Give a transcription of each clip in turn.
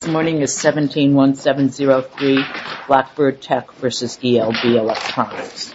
This morning is 17-1703 Blackbird Tech v. ELB Electronics This morning is 17-1703 Blackbird Tech v. ELB Electronics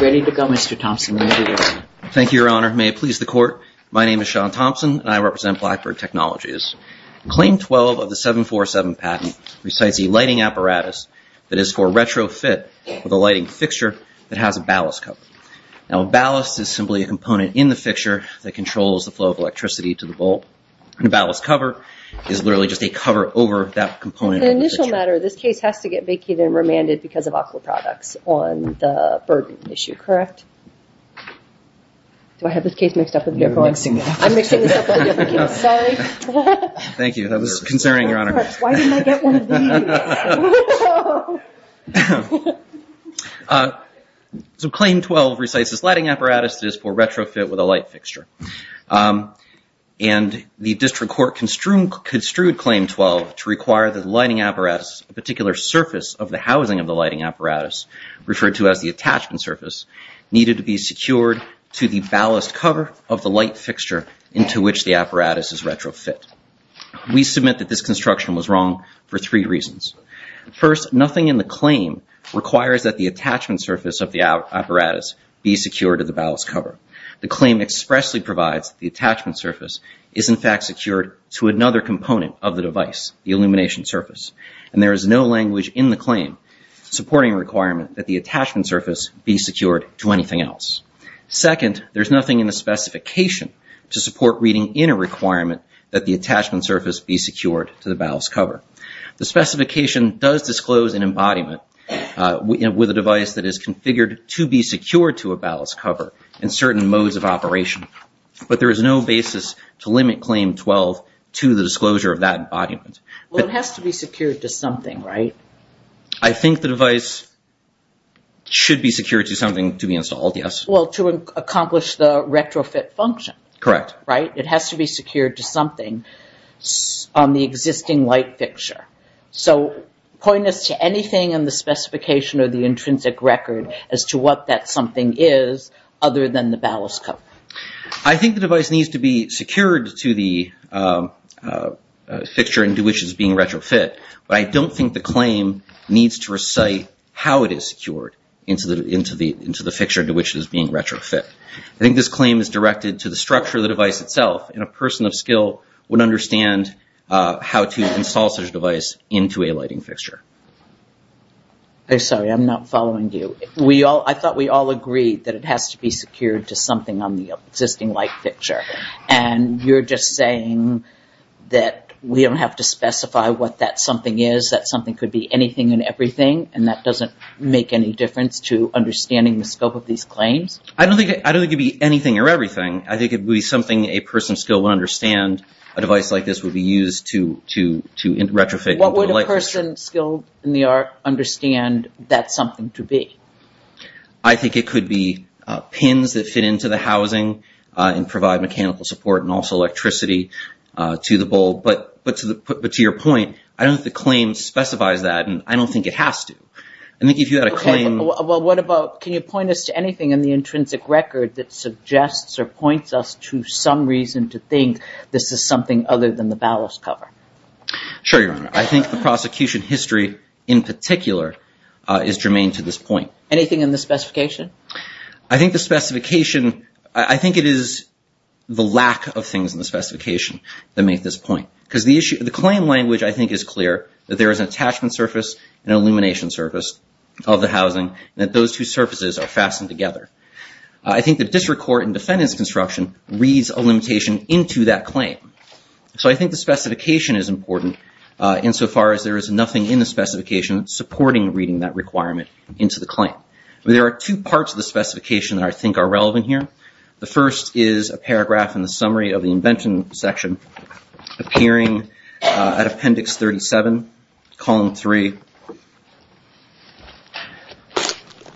Ready to go, Mr. Thompson. Thank you, Your Honor. May it please the Court. My name is Sean Thompson, and I represent Blackbird Technologies. Claim 12 of the 747 patent recites a lighting apparatus that is for retrofit with a lighting fixture that has a ballast cover. Now, a ballast is simply a component in the fixture that controls the flow of electricity to the bulb, and a ballast cover is literally just a cover over that component of the fixture. As a special matter, this case has to get vacated and remanded because of awful products on the burden issue, correct? Do I have this case mixed up with the other one? I'm mixing this up with the other case, sorry. Thank you. That was concerning, Your Honor. Why didn't I get one of these? So, Claim 12 recites this lighting apparatus that is for retrofit with a light fixture. And the District Court construed Claim 12 to require that the lighting apparatus, a particular surface of the housing of the lighting apparatus, referred to as the attachment surface, needed to be secured to the ballast cover of the light fixture into which the apparatus is retrofit. We submit that this construction was wrong for three reasons. First, nothing in the claim requires that the attachment surface of the apparatus be secured to the ballast cover. The claim expressly provides that the attachment surface is, in fact, secured to another component of the device, the illumination surface. And there is no language in the claim supporting a requirement that the attachment surface be secured to anything else. Second, there's nothing in the specification to support reading in a requirement that the attachment surface be secured to the ballast cover. The specification does disclose an embodiment with a device that is configured to be secured to a ballast cover in certain modes of operation. But there is no basis to limit Claim 12 to the disclosure of that embodiment. Well, it has to be secured to something, right? I think the device should be secured to something to be installed, yes. Well, to accomplish the retrofit function. Correct. Right? It has to be secured to something on the existing light fixture. So point us to anything in the specification or the intrinsic record as to what that something is other than the ballast cover. I think the device needs to be secured to the fixture into which it is being retrofit. But I don't think the claim needs to recite how it is secured into the fixture into which it is being retrofit. I think this claim is directed to the structure of the device itself. And a person of skill would understand how to install such a device into a lighting fixture. I'm sorry, I'm not following you. I thought we all agreed that it has to be secured to something on the existing light fixture. And you're just saying that we don't have to specify what that something is, that something could be anything and everything, and that doesn't make any difference to understanding the scope of these claims? I don't think it could be anything or everything. I think it would be something a person of skill would understand. A device like this would be used to retrofit into a light fixture. What would a person skilled in the art understand that something to be? I think it could be pins that fit into the housing and provide mechanical support and also electricity to the bulb. But to your point, I don't think the claim specifies that, and I don't think it has to. I think if you had a claim... Well, what about, can you point us to anything in the intrinsic record that suggests or points us to some reason to think this is something other than the ballast cover? Sure, Your Honor. I think the prosecution history in particular is germane to this point. Anything in the specification? I think the specification, I think it is the lack of things in the specification that make this point. Because the claim language, I think, is clear, that there is an attachment surface and an illumination surface of the housing, and that those two surfaces are fastened together. I think the district court in defendant's construction reads a limitation into that claim. So I think the specification is important, insofar as there is nothing in the specification supporting reading that requirement into the claim. There are two parts of the specification that I think are relevant here. The first is a paragraph in the summary of the invention section, appearing at appendix 37, column 3,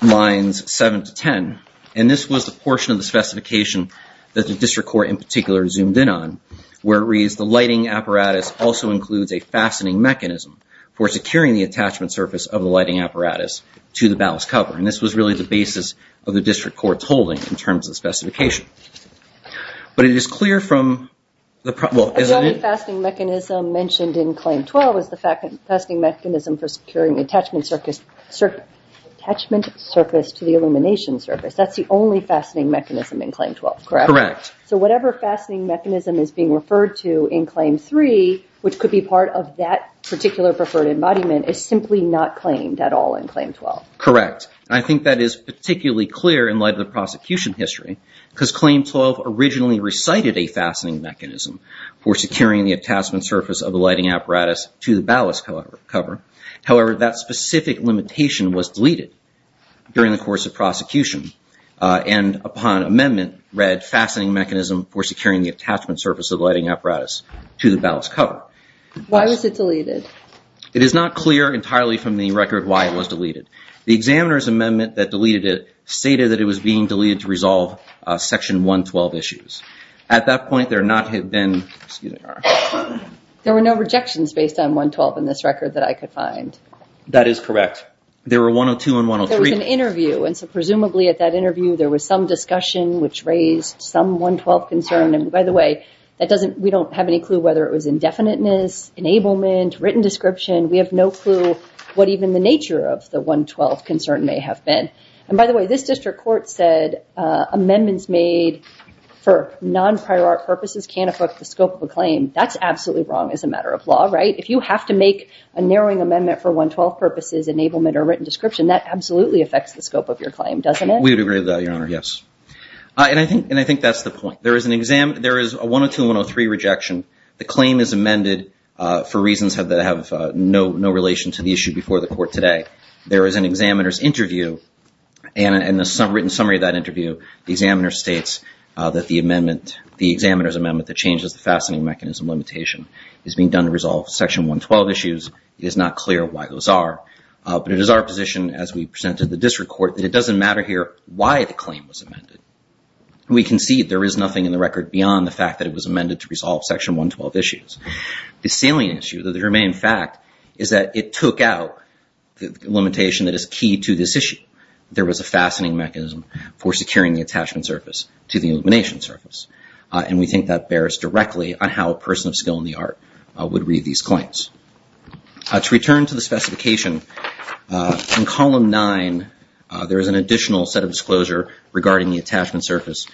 lines 7 to 10. And this was the portion of the specification that the district court in particular zoomed in on, where it reads, the lighting apparatus also includes a fastening mechanism for securing the attachment surface of the lighting apparatus to the ballast cover. And this was really the basis of the district court's holding in terms of the specification. But it is clear from... The only fastening mechanism mentioned in Claim 12 is the fastening mechanism for securing the attachment surface to the illumination surface. That's the only fastening mechanism in Claim 12, correct? Correct. So whatever fastening mechanism is being referred to in Claim 3, which could be part of that particular preferred embodiment, is simply not claimed at all in Claim 12. Correct. I think that is particularly clear in light of the prosecution history because Claim 12 originally recited a fastening mechanism for securing the attachment surface of the lighting apparatus to the ballast cover. However, that specific limitation was deleted during the course of prosecution and upon amendment read, fastening mechanism for securing the attachment surface of the lighting apparatus to the ballast cover. Why was it deleted? It is not clear entirely from the record why it was deleted. The examiner's amendment that deleted it stated that it was being deleted to resolve Section 112 issues. At that point, there not have been... There were no rejections based on 112 in this record that I could find. That is correct. There were 102 and 103. There was an interview, and so presumably at that interview there was some discussion which raised some 112 concern. And by the way, we don't have any clue whether it was indefiniteness, enablement, written description. We have no clue what even the nature of the 112 concern may have been. And by the way, this district court said amendments made for non-prior art purposes can't affect the scope of a claim. That's absolutely wrong as a matter of law, right? If you have to make a narrowing amendment for 112 purposes, enablement, or written description, that absolutely affects the scope of your claim, doesn't it? We would agree with that, Your Honor, yes. And I think that's the point. There is a 102 and 103 rejection. The claim is amended for reasons that have no relation to the issue before the court today. There is an examiner's interview, and in the written summary of that interview, the examiner states that the examiner's amendment that changes the fastening mechanism limitation is being done to resolve Section 112 issues. It is not clear why those are. But it is our position as we present to the district court that it doesn't matter here why the claim was amended. We concede there is nothing in the record beyond the fact that it was amended to resolve Section 112 issues. The salient issue, though there may in fact, is that it took out the limitation that is key to this issue. There was a fastening mechanism for securing the attachment surface to the illumination surface. And we think that bears directly on how a person of skill in the art would read these claims. To return to the specification, in Column 9, there is an additional set of disclosure regarding the attachment surface,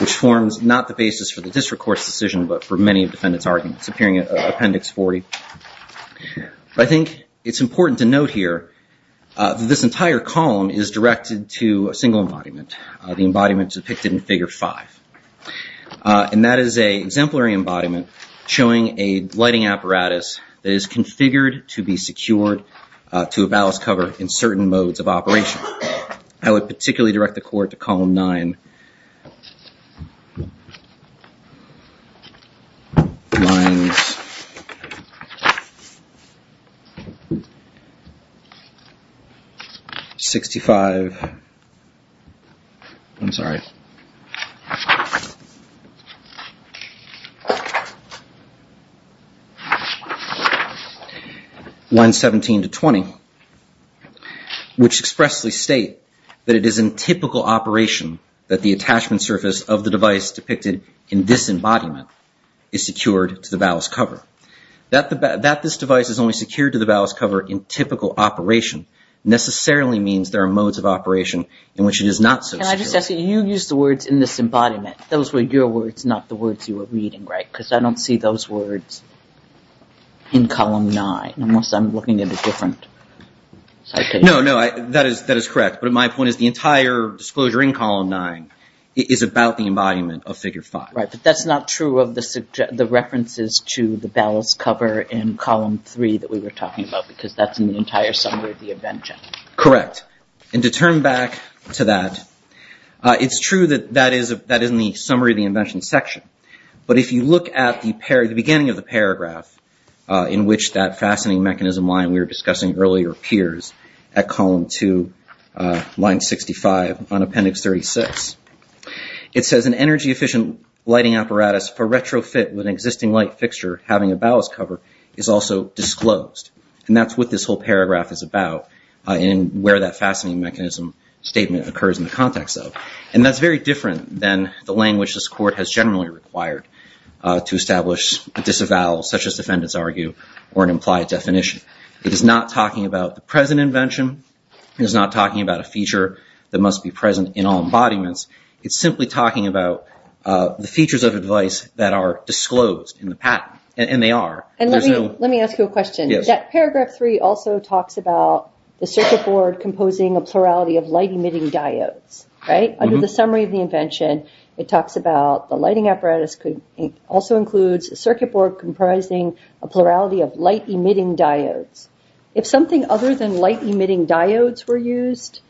which forms not the basis for the district court's decision, but for many defendants' arguments, appearing in Appendix 40. I think it's important to note here that this entire column is directed to a single embodiment, the embodiment depicted in Figure 5. And that is an exemplary embodiment showing a lighting apparatus that is configured to be secured to a ballast cover in certain modes of operation. I would particularly direct the Court to Column 9 in... ..Lines... ..65... I'm sorry. ..Lines 17 to 20, which expressly state that it is in typical operation that the attachment surface of the device depicted in this embodiment is secured to the ballast cover. That this device is only secured to the ballast cover in typical operation necessarily means there are modes of operation in which it is not so secured. Can I just ask you, you used the words in this embodiment. Those were your words, not the words you were reading, right? Because I don't see those words in Column 9, unless I'm looking at a different citation. No, no, that is correct. But my point is the entire disclosure in Column 9 is about the embodiment of Figure 5. Right, but that's not true of the references to the ballast cover in Column 3 that we were talking about, because that's in the entire summary of the invention. Correct. And to turn back to that, it's true that that is in the summary of the invention section. But if you look at the beginning of the paragraph in which that fastening mechanism line that we were discussing earlier appears at Column 2, Line 65 on Appendix 36, it says, An energy-efficient lighting apparatus for retrofit with an existing light fixture having a ballast cover is also disclosed. And that's what this whole paragraph is about and where that fastening mechanism statement occurs in the context of. And that's very different than the language this Court has generally required to establish a disavowal, such as defendants argue, or an implied definition. It is not talking about the present invention. It is not talking about a feature that must be present in all embodiments. It's simply talking about the features of advice that are disclosed in the patent. And they are. Let me ask you a question. Paragraph 3 also talks about the circuit board composing a plurality of light-emitting diodes, right? Under the summary of the invention, it talks about the lighting apparatus also includes a circuit board comprising a plurality of light-emitting diodes. If something other than light-emitting diodes were used,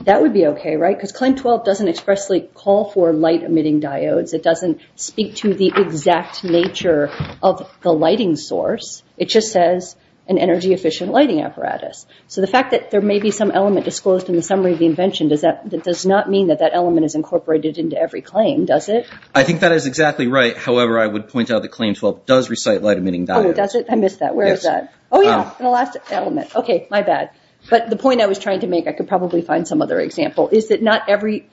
that would be okay, right? Because Claim 12 doesn't expressly call for light-emitting diodes. It doesn't speak to the exact nature of the lighting source. It just says an energy-efficient lighting apparatus. So the fact that there may be some element disclosed in the summary of the invention, that does not mean that that element is incorporated into every claim, does it? I think that is exactly right. However, I would point out that Claim 12 does recite light-emitting diodes. Oh, does it? I missed that. Where is that? Oh, yeah, in the last element. Okay, my bad. But the point I was trying to make, I could probably find some other example, is that not every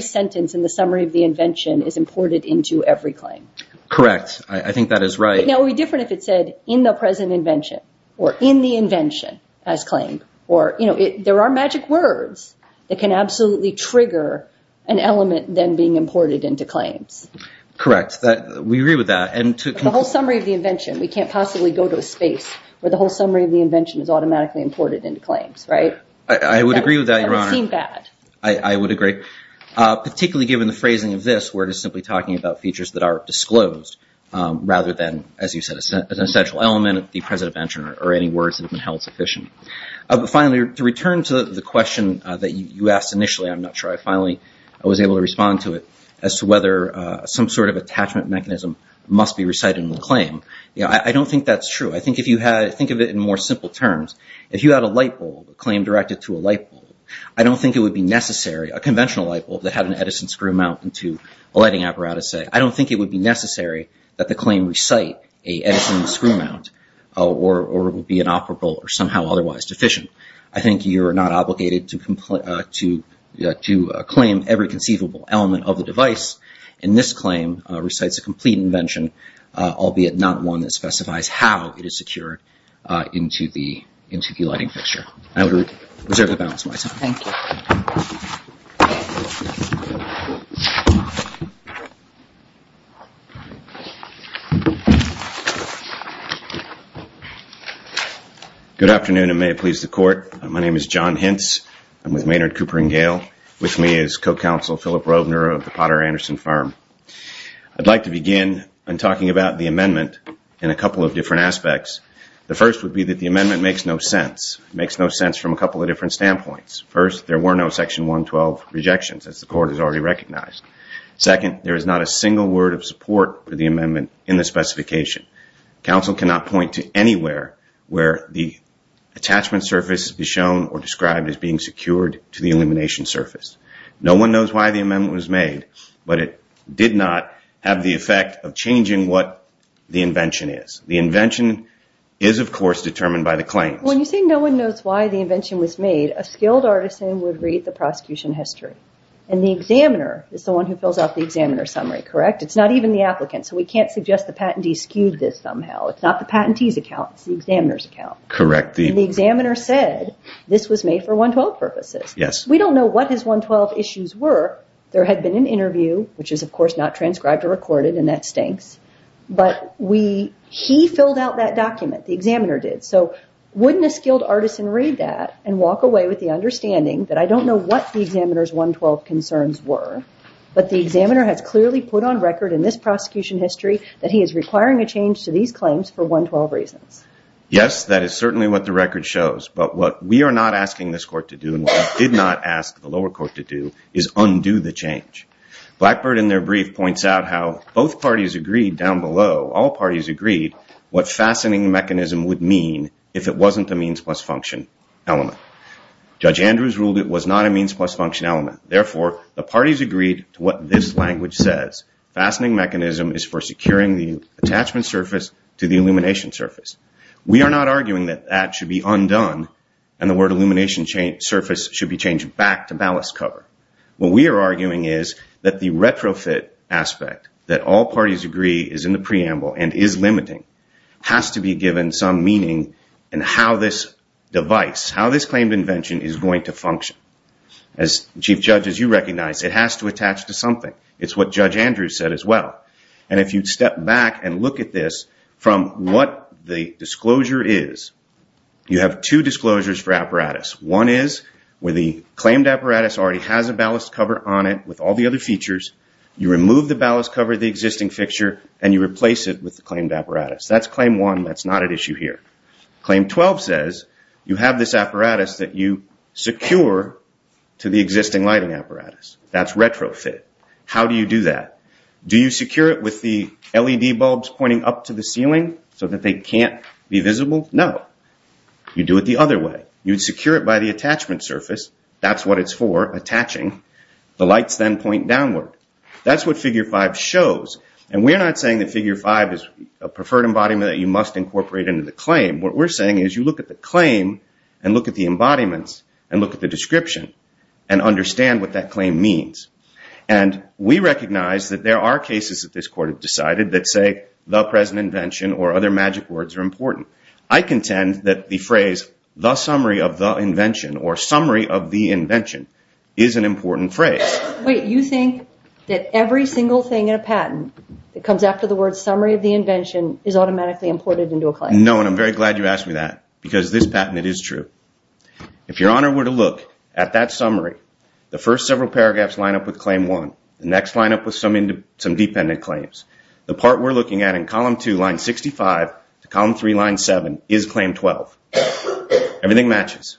sentence in the summary of the invention is imported into every claim. Correct. I think that is right. Now, it would be different if it said in the present invention, or in the invention as claimed, or, you know, there are magic words that can absolutely trigger an element then being imported into claims. Correct. We agree with that. But the whole summary of the invention, we can't possibly go to a space where the whole summary of the invention is automatically imported into claims, right? I would agree with that, Your Honor. That would seem bad. I would agree. Particularly given the phrasing of this, where it is simply talking about features that are disclosed, rather than, as you said, an essential element of the present invention or any words that have been held sufficient. Finally, to return to the question that you asked initially, I'm not sure I finally was able to respond to it, as to whether some sort of attachment mechanism must be recited in the claim. I don't think that's true. I think if you had, think of it in more simple terms. If you had a light bulb, a claim directed to a light bulb, I don't think it would be necessary, a conventional light bulb that had an Edison screw mount into a lighting apparatus, say, I don't think it would be necessary that the claim recite a Edison screw mount or would be inoperable or somehow otherwise deficient. I think you're not obligated to claim every conceivable element of the device, and this claim recites a complete invention, albeit not one that specifies how it is secured into the lighting fixture. I would reserve the balance of my time. Thank you. Good afternoon, and may it please the Court. My name is John Hintz. I'm with Maynard, Cooper & Gale. With me is Co-Counsel Philip Rovner of the Potter Anderson Firm. I'd like to begin in talking about the amendment in a couple of different aspects. The first would be that the amendment makes no sense, makes no sense from a couple of different standpoints. First, there were no Section 112 rejections, as the Court has already recognized. Second, there is not a single word of support for the amendment in the specification. Counsel cannot point to anywhere where the attachment surface is shown or described as being secured to the illumination surface. No one knows why the amendment was made, but it did not have the effect of changing what the invention is. The invention is, of course, determined by the claims. When you say no one knows why the invention was made, a skilled artisan would read the prosecution history, and the examiner is the one who fills out the examiner's summary, correct? It's not even the applicant, so we can't suggest the patentee skewed this somehow. It's not the patentee's account. It's the examiner's account. Correct. And the examiner said this was made for 112 purposes. Yes. We don't know what his 112 issues were. There had been an interview, which is, of course, not transcribed or recorded, and that stinks. But he filled out that document. The examiner did. So wouldn't a skilled artisan read that and walk away with the understanding that I don't know what the examiner's 112 concerns were, but the examiner has clearly put on record in this prosecution history that he is requiring a change to these claims for 112 reasons? Yes, that is certainly what the record shows. But what we are not asking this Court to do and what we did not ask the lower court to do is undo the change. Blackbird, in their brief, points out how both parties agreed down below, all parties agreed, what fastening mechanism would mean if it wasn't a means-plus-function element. Judge Andrews ruled it was not a means-plus-function element. Therefore, the parties agreed to what this language says. Fastening mechanism is for securing the attachment surface to the illumination surface. We are not arguing that that should be undone, and the word illumination surface should be changed back to ballast cover. What we are arguing is that the retrofit aspect, that all parties agree is in the preamble and is limiting, has to be given some meaning in how this device, how this claimed invention is going to function. As chief judges, you recognize it has to attach to something. It's what Judge Andrews said as well. And if you step back and look at this from what the disclosure is, you have two disclosures for apparatus. One is where the claimed apparatus already has a ballast cover on it with all the other features. You remove the ballast cover, the existing fixture, and you replace it with the claimed apparatus. That's claim one. That's not at issue here. Claim 12 says you have this apparatus that you secure to the existing lighting apparatus. That's retrofit. How do you do that? Do you secure it with the LED bulbs pointing up to the ceiling so that they can't be visible? No. You do it the other way. You secure it by the attachment surface. That's what it's for, attaching. The lights then point downward. That's what Figure 5 shows. And we're not saying that Figure 5 is a preferred embodiment that you must incorporate into the claim. What we're saying is you look at the claim and look at the embodiments and look at the description and understand what that claim means. And we recognize that there are cases that this court have decided that say the present invention or other magic words are important. I contend that the phrase the summary of the invention or summary of the invention is an important phrase. Wait, you think that every single thing in a patent that comes after the word summary of the invention is automatically imported into a claim? No, and I'm very glad you asked me that because this patent, it is true. If Your Honor were to look at that summary, the first several paragraphs line up with claim one. The next line up with some dependent claims. The part we're looking at in column 2, line 65 to column 3, line 7 is claim 12. Everything matches.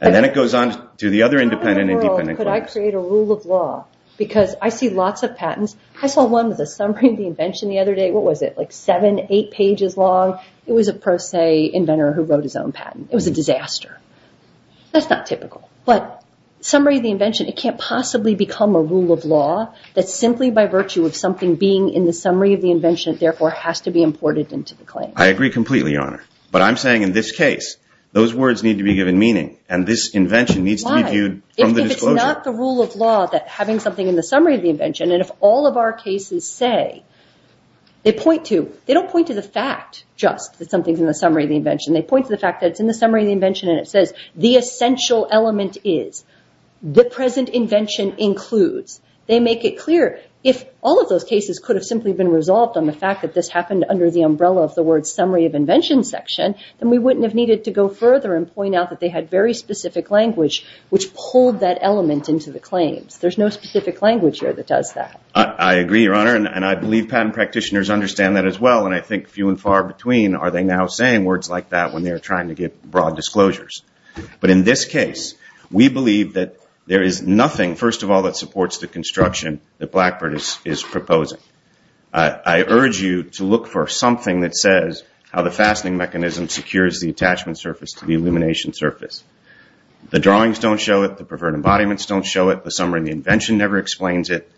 And then it goes on to the other independent and dependent claims. How in the world could I create a rule of law? Because I see lots of patents. I saw one with a summary of the invention the other day. What was it, like seven, eight pages long? It was a pro se inventor who wrote his own patent. It was a disaster. That's not typical. But summary of the invention, it can't possibly become a rule of law that simply by virtue of something being in the summary of the invention therefore has to be imported into the claim. I agree completely, Your Honor. But I'm saying in this case, those words need to be given meaning and this invention needs to be viewed from the disclosure. Why? If it's not the rule of law that having something in the summary of the invention and if all of our cases say, they point to, they don't point to the fact just that something's in the summary of the invention. They point to the fact that it's in the summary of the invention and it says the essential element is. The present invention includes. They make it clear. If all of those cases could have simply been resolved on the fact that this happened under the umbrella of the word summary of invention section, then we wouldn't have needed to go further and point out that they had very specific language which pulled that element into the claims. There's no specific language here that does that. I agree, Your Honor. And I believe patent practitioners understand that as well. And I think few and far between are they now saying words like that when they're trying to get broad disclosures. But in this case, we believe that there is nothing, first of all, that supports the construction that Blackburn is proposing. I urge you to look for something that says how the fastening mechanism secures the attachment surface to the illumination surface. The drawings don't show it. The preferred embodiments don't show it. The summary of the invention never explains it.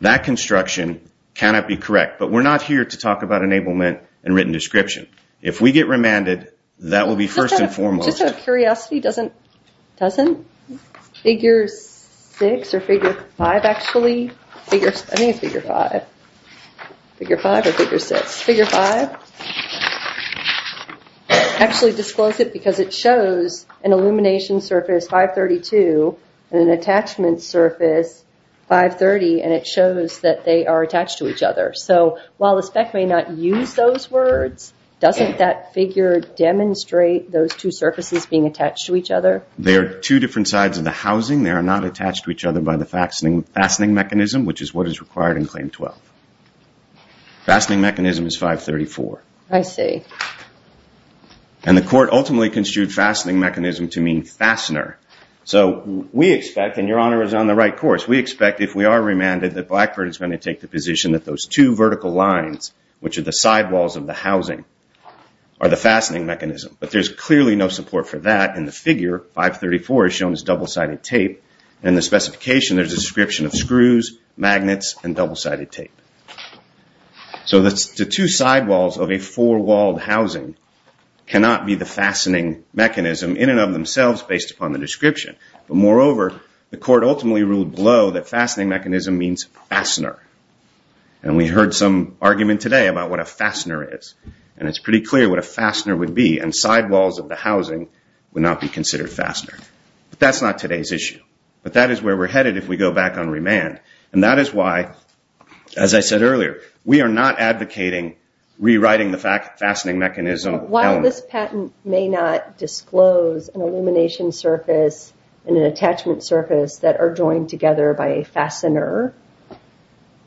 That construction cannot be correct. But we're not here to talk about enablement and written description. If we get remanded, that will be first and foremost. Just out of curiosity, doesn't figure 6 or figure 5 actually? I think it's figure 5. Figure 5 or figure 6. Figure 5 actually discloses it because it shows an illumination surface 532 and an attachment surface 530 and it shows that they are attached to each other. So while the spec may not use those words, doesn't that figure demonstrate those two surfaces being attached to each other? They are two different sides of the housing. They are not attached to each other by the fastening mechanism, which is what is required in Claim 12. Fastening mechanism is 534. I see. And the court ultimately construed fastening mechanism to mean fastener. So we expect, and Your Honor is on the right course, we expect if we are remanded that Blackburn is going to take the position that those two vertical lines, which are the sidewalls of the housing, are the fastening mechanism. But there is clearly no support for that, and the figure 534 is shown as double-sided tape, and in the specification there is a description of screws, magnets, and double-sided tape. So the two sidewalls of a four-walled housing cannot be the fastening mechanism in and of themselves based upon the description. But moreover, the court ultimately ruled below that fastening mechanism means fastener. And we heard some argument today about what a fastener is, and it's pretty clear what a fastener would be, and sidewalls of the housing would not be considered fastener. But that's not today's issue. But that is where we're headed if we go back on remand. And that is why, as I said earlier, we are not advocating rewriting the fastening mechanism element. This patent may not disclose an illumination surface and an attachment surface that are joined together by a fastener.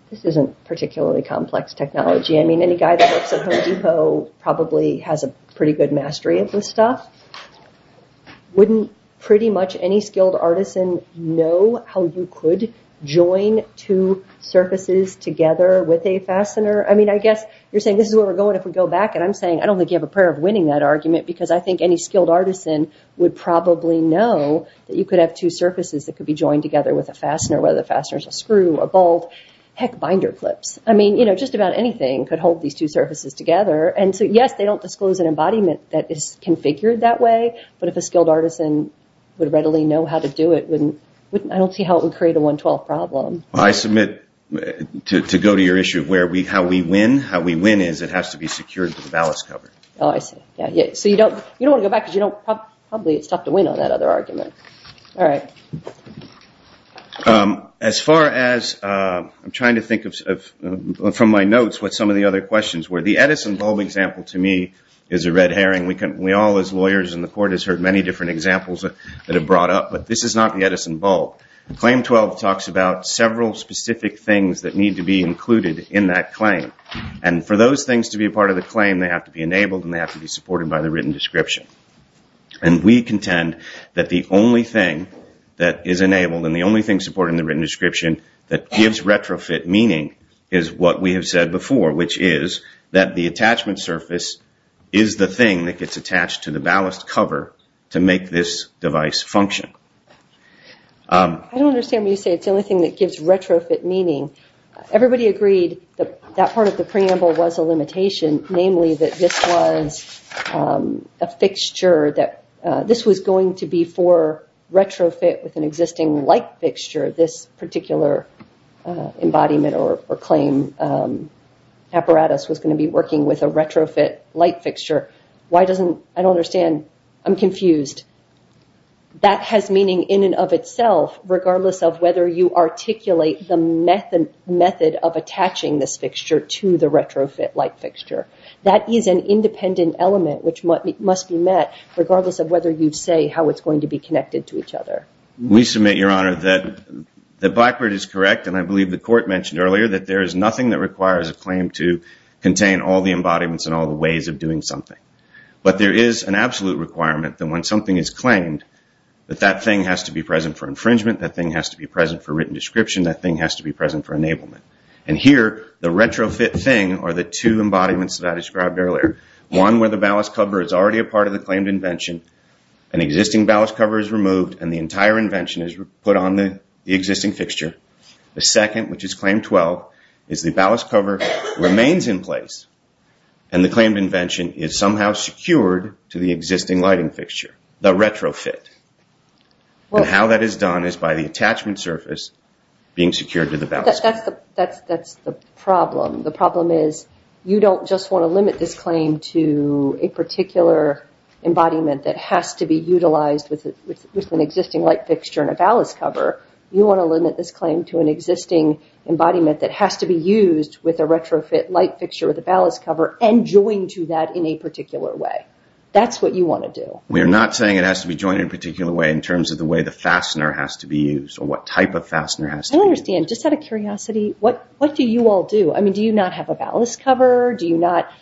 This isn't particularly complex technology. I mean, any guy that works at Home Depot probably has a pretty good mastery of this stuff. Wouldn't pretty much any skilled artisan know how you could join two surfaces together with a fastener? I mean, I guess you're saying this is where we're going if we go back, and I'm saying I don't think you have a prayer of winning that argument because I think any skilled artisan would probably know that you could have two surfaces that could be joined together with a fastener, whether the fastener is a screw, a bolt, heck, binder clips. I mean, just about anything could hold these two surfaces together. And so, yes, they don't disclose an embodiment that is configured that way, but if a skilled artisan would readily know how to do it, I don't see how it would create a 112 problem. I submit, to go to your issue of how we win, how we win is it has to be secured with a ballast cover. Oh, I see. So you don't want to go back because probably it's tough to win on that other argument. All right. As far as I'm trying to think from my notes what some of the other questions were, the Edison bulb example to me is a red herring. We all as lawyers in the court have heard many different examples that have brought up, but this is not the Edison bulb. Claim 12 talks about several specific things that need to be included in that claim. And for those things to be a part of the claim, they have to be enabled and they have to be supported by the written description. And we contend that the only thing that is enabled and the only thing supported in the written description that gives retrofit meaning is what we have said before, which is that the attachment surface is the thing that gets attached to the ballast cover to make this device function. I don't understand when you say it's the only thing that gives retrofit meaning. Everybody agreed that that part of the preamble was a limitation, namely that this was a fixture that this was going to be for retrofit with an existing light fixture. This particular embodiment or claim apparatus was going to be working with a retrofit light fixture. Why doesn't, I don't understand, I'm confused. That has meaning in and of itself, regardless of whether you articulate the method of attaching this fixture to the retrofit light fixture. That is an independent element which must be met, regardless of whether you say how it's going to be connected to each other. We submit, Your Honor, that Blackbird is correct, and I believe the court mentioned earlier that there is nothing that requires a claim to contain all the embodiments and all the ways of doing something. But there is an absolute requirement that when something is claimed, that that thing has to be present for infringement, that thing has to be present for written description, that thing has to be present for enablement. Here, the retrofit thing are the two embodiments that I described earlier. One where the ballast cover is already a part of the claimed invention, an existing ballast cover is removed and the entire invention is put on the existing fixture. The second, which is claim 12, is the ballast cover remains in place and the claimed invention is somehow secured to the existing lighting fixture, the retrofit. How that is done is by the attachment surface being secured to the ballast cover. That's the problem. The problem is you don't just want to limit this claim to a particular embodiment that has to be utilized with an existing light fixture and a ballast cover. You want to limit this claim to an existing embodiment that has to be used with a retrofit light fixture with a ballast cover and joined to that in a particular way. That's what you want to do. We are not saying it has to be joined in a particular way in terms of the way the fastener has to be used or what type of fastener has to be used. I don't understand. Just out of curiosity, what do you all do? Do you not have a ballast cover? This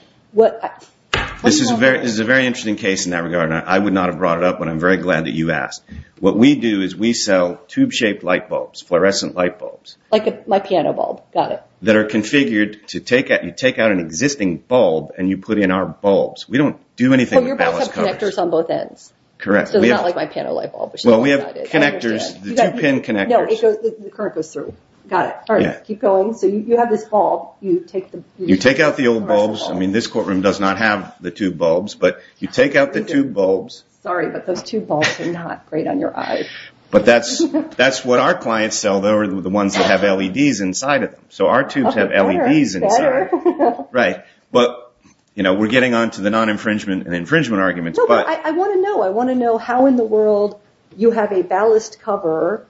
is a very interesting case in that regard. I would not have brought it up, but I'm very glad that you asked. What we do is we sell tube-shaped light bulbs, fluorescent light bulbs. Like my piano bulb. Got it. That are configured to take out an existing bulb and you put in our bulbs. We don't do anything with ballast covers. But your bulb has connectors on both ends. Correct. So it's not like my piano light bulb. Well, we have connectors, the two-pin connectors. No, the current goes through. Got it. All right, keep going. So you have this bulb. You take out the old bulbs. I mean, this courtroom does not have the tube bulbs, but you take out the tube bulbs. Sorry, but those tube bulbs are not great on your eyes. But that's what our clients sell. They're the ones that have LEDs inside of them. So our tubes have LEDs inside. Right. But we're getting on to the non-infringement and infringement arguments. No, but I want to know. I want to know how in the world you have a ballast cover.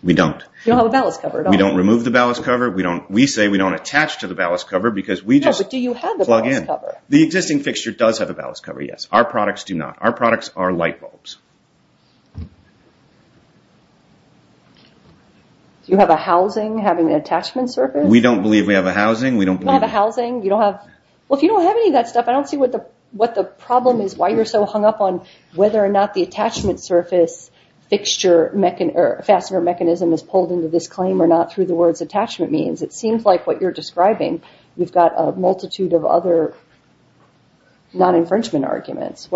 We don't. You don't have a ballast cover at all. We don't remove the ballast cover. We say we don't attach to the ballast cover because we just plug in. No, but do you have the ballast cover? The existing fixture does have a ballast cover, yes. Our products do not. Our products are light bulbs. Do you have a housing having an attachment surface? We don't believe we have a housing. We don't believe we have a housing. You don't have a housing? Well, if you don't have any of that stuff, I don't see what the problem is, why you're so hung up on whether or not the attachment surface fixture or fastener mechanism is pulled into this claim or not through the words attachment means. It seems like what you're describing, you've got a multitude of other non-infringement arguments.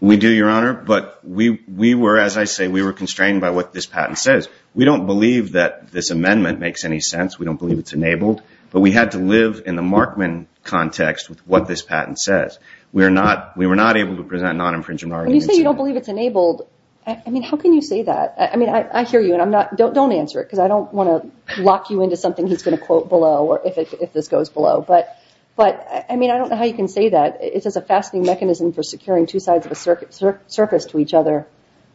We do, Your Honor, but we were, as I say, we were constrained by what this patent says. We don't believe that this amendment makes any sense. We don't believe it's enabled, but we had to live in the Markman context with what this patent says. We were not able to present non-infringement arguments. When you say you don't believe it's enabled, I mean, how can you say that? I mean, I hear you, and don't answer it, because I don't want to lock you into something he's going to quote below or if this goes below, but I mean, I don't know how you can say that. It says a fastening mechanism for securing two sides of a surface to each other.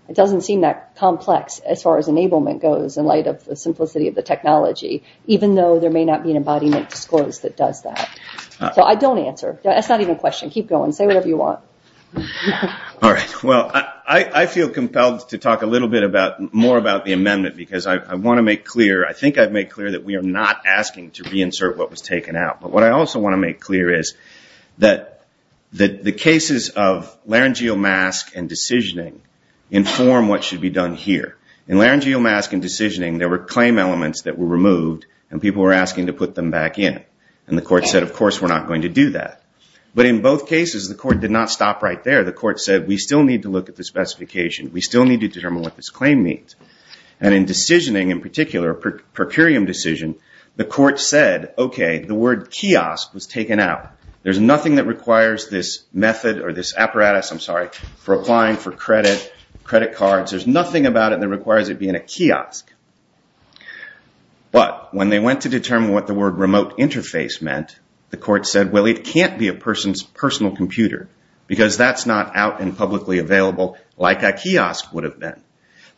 It doesn't seem that complex as far as enablement goes in light of the simplicity of the technology, even though there may not be an embodiment disclosed that does that. So I don't answer. That's not even a question. Keep going. Say whatever you want. All right. Well, I feel compelled to talk a little bit more about the amendment because I want to make clear, I think I've made clear, that we are not asking to reinsert what was taken out, but what I also want to make clear is that the cases of laryngeal mask and decisioning inform what should be done here. In laryngeal mask and decisioning, there were claim elements that were removed and people were asking to put them back in, and the court said, of course, we're not going to do that. But in both cases, the court did not stop right there. The court said, we still need to look at the specification. We still need to determine what this claim means. And in decisioning, in particular, a per curiam decision, the court said, okay, the word kiosk was taken out. There's nothing that requires this method or this apparatus, I'm sorry, for applying for credit, credit cards. There's nothing about it that requires it being a kiosk. But when they went to determine what the word remote interface meant, the court said, well, it can't be a person's personal computer because that's not out and publicly available like a kiosk would have been.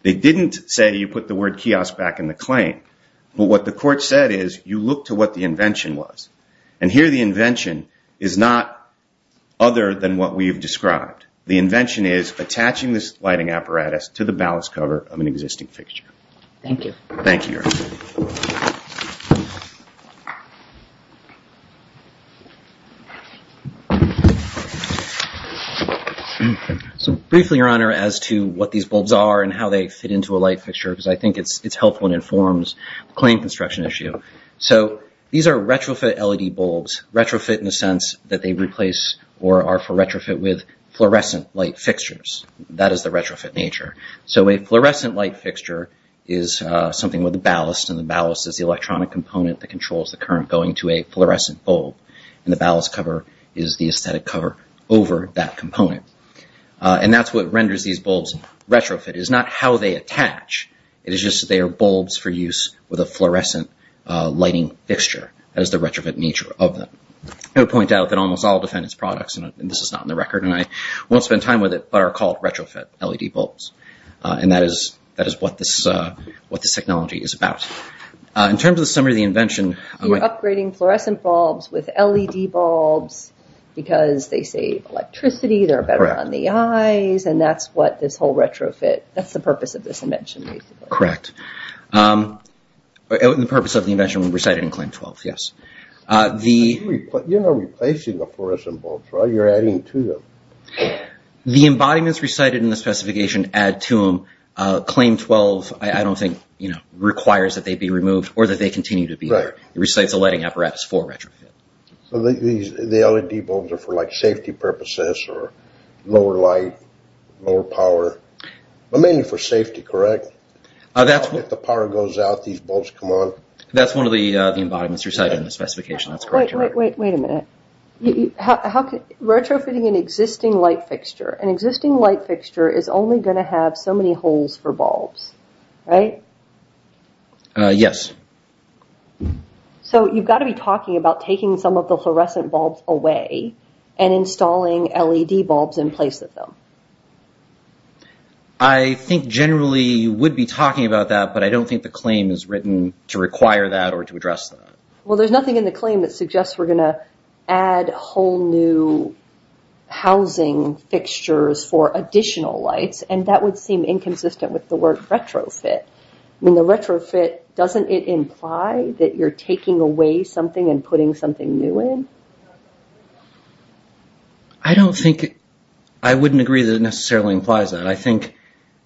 They didn't say you put the word kiosk back in the claim. But what the court said is, you look to what the invention was. And here the invention is not other than what we've described. The invention is attaching this lighting apparatus to the ballast cover of an existing fixture. Thank you. Thank you, Your Honor. So briefly, Your Honor, as to what these bulbs are and how they fit into a light fixture, because I think it's helpful and informs the claim construction issue. So these are retrofit LED bulbs, retrofit in the sense that they replace or are for retrofit with fluorescent light fixtures. That is the retrofit nature. So a fluorescent light fixture is something with a ballast, and the ballast is the electronic component that controls the current going to a fluorescent bulb. And the ballast cover is the aesthetic cover over that component. And that's what renders these bulbs retrofit. It is not how they attach. It is just that they are bulbs for use with a fluorescent lighting fixture. That is the retrofit nature of them. I would point out that almost all defendant's products, and this is not in the record, and I won't spend time with it, but are called retrofit LED bulbs. And that is what this technology is about. In terms of the summary of the invention. You're upgrading fluorescent bulbs with LED bulbs because they save electricity, they're better on the eyes, and that's what this whole retrofit, that's the purpose of this invention basically. Correct. The purpose of the invention was recited in Claim 12, yes. You're not replacing the fluorescent bulbs, right? You're adding to them. The embodiments recited in the specification add to them. Claim 12, I don't think, requires that they be removed or that they continue to be there. It recites the lighting apparatus for retrofit. The LED bulbs are for safety purposes or lower light, lower power. But mainly for safety, correct? If the power goes out, these bulbs come on. That's one of the embodiments recited in the specification. Wait a minute. Retrofitting an existing light fixture. An existing light fixture is only going to have so many holes for bulbs, right? Yes. So you've got to be talking about taking some of the fluorescent bulbs away and installing LED bulbs in place of them. I think generally you would be talking about that, but I don't think the claim is written to require that or to address that. Well, there's nothing in the claim that suggests we're going to add whole new housing fixtures for additional lights, and that would seem inconsistent with the word retrofit. Retrofit, doesn't it imply that you're taking away something and putting something new in? I don't think, I wouldn't agree that it necessarily implies that. I think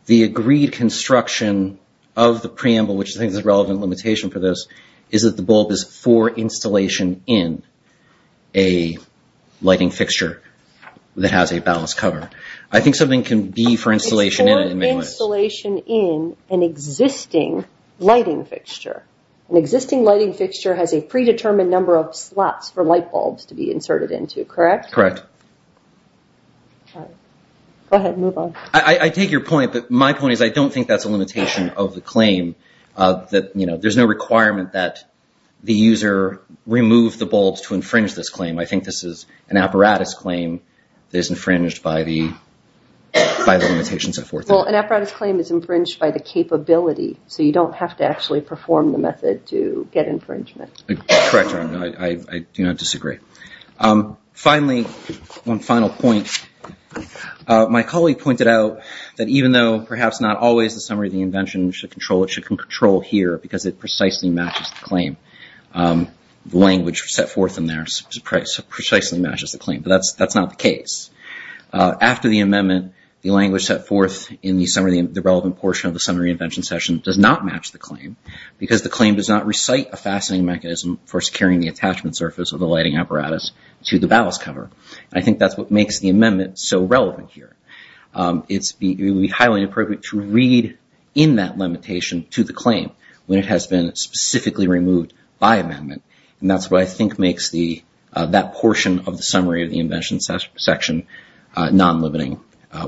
the agreed construction of the preamble, which I think is a relevant limitation for this, is that the bulb is for installation in a lighting fixture that has a ballast cover. I think something can be for installation in it in many ways. For installation in an existing lighting fixture. An existing lighting fixture has a predetermined number of slots for light bulbs to be inserted into, correct? Correct. Go ahead, move on. I take your point, but my point is I don't think that's a limitation of the claim. There's no requirement that the user remove the bulbs to infringe this claim. I think this is an apparatus claim that is infringed by the limitations. Well, an apparatus claim is infringed by the capability, so you don't have to actually perform the method to get infringement. Correct, I do not disagree. Finally, one final point. My colleague pointed out that even though perhaps not always the summary of the invention should control it, it should control here because it precisely matches the claim. The language set forth in there precisely matches the claim, but that's not the case. After the amendment, the language set forth in the relevant portion of the summary of the invention session does not match the claim because the claim does not recite a fastening mechanism for securing the attachment surface of the lighting apparatus to the ballast cover. I think that's what makes the amendment so relevant here. It would be highly inappropriate to read in that limitation to the claim when it has been specifically removed by amendment. That's what I think makes that portion of the summary of the invention section non-limiting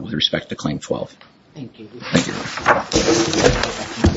with respect to Claim 12. Thank you. Thank you.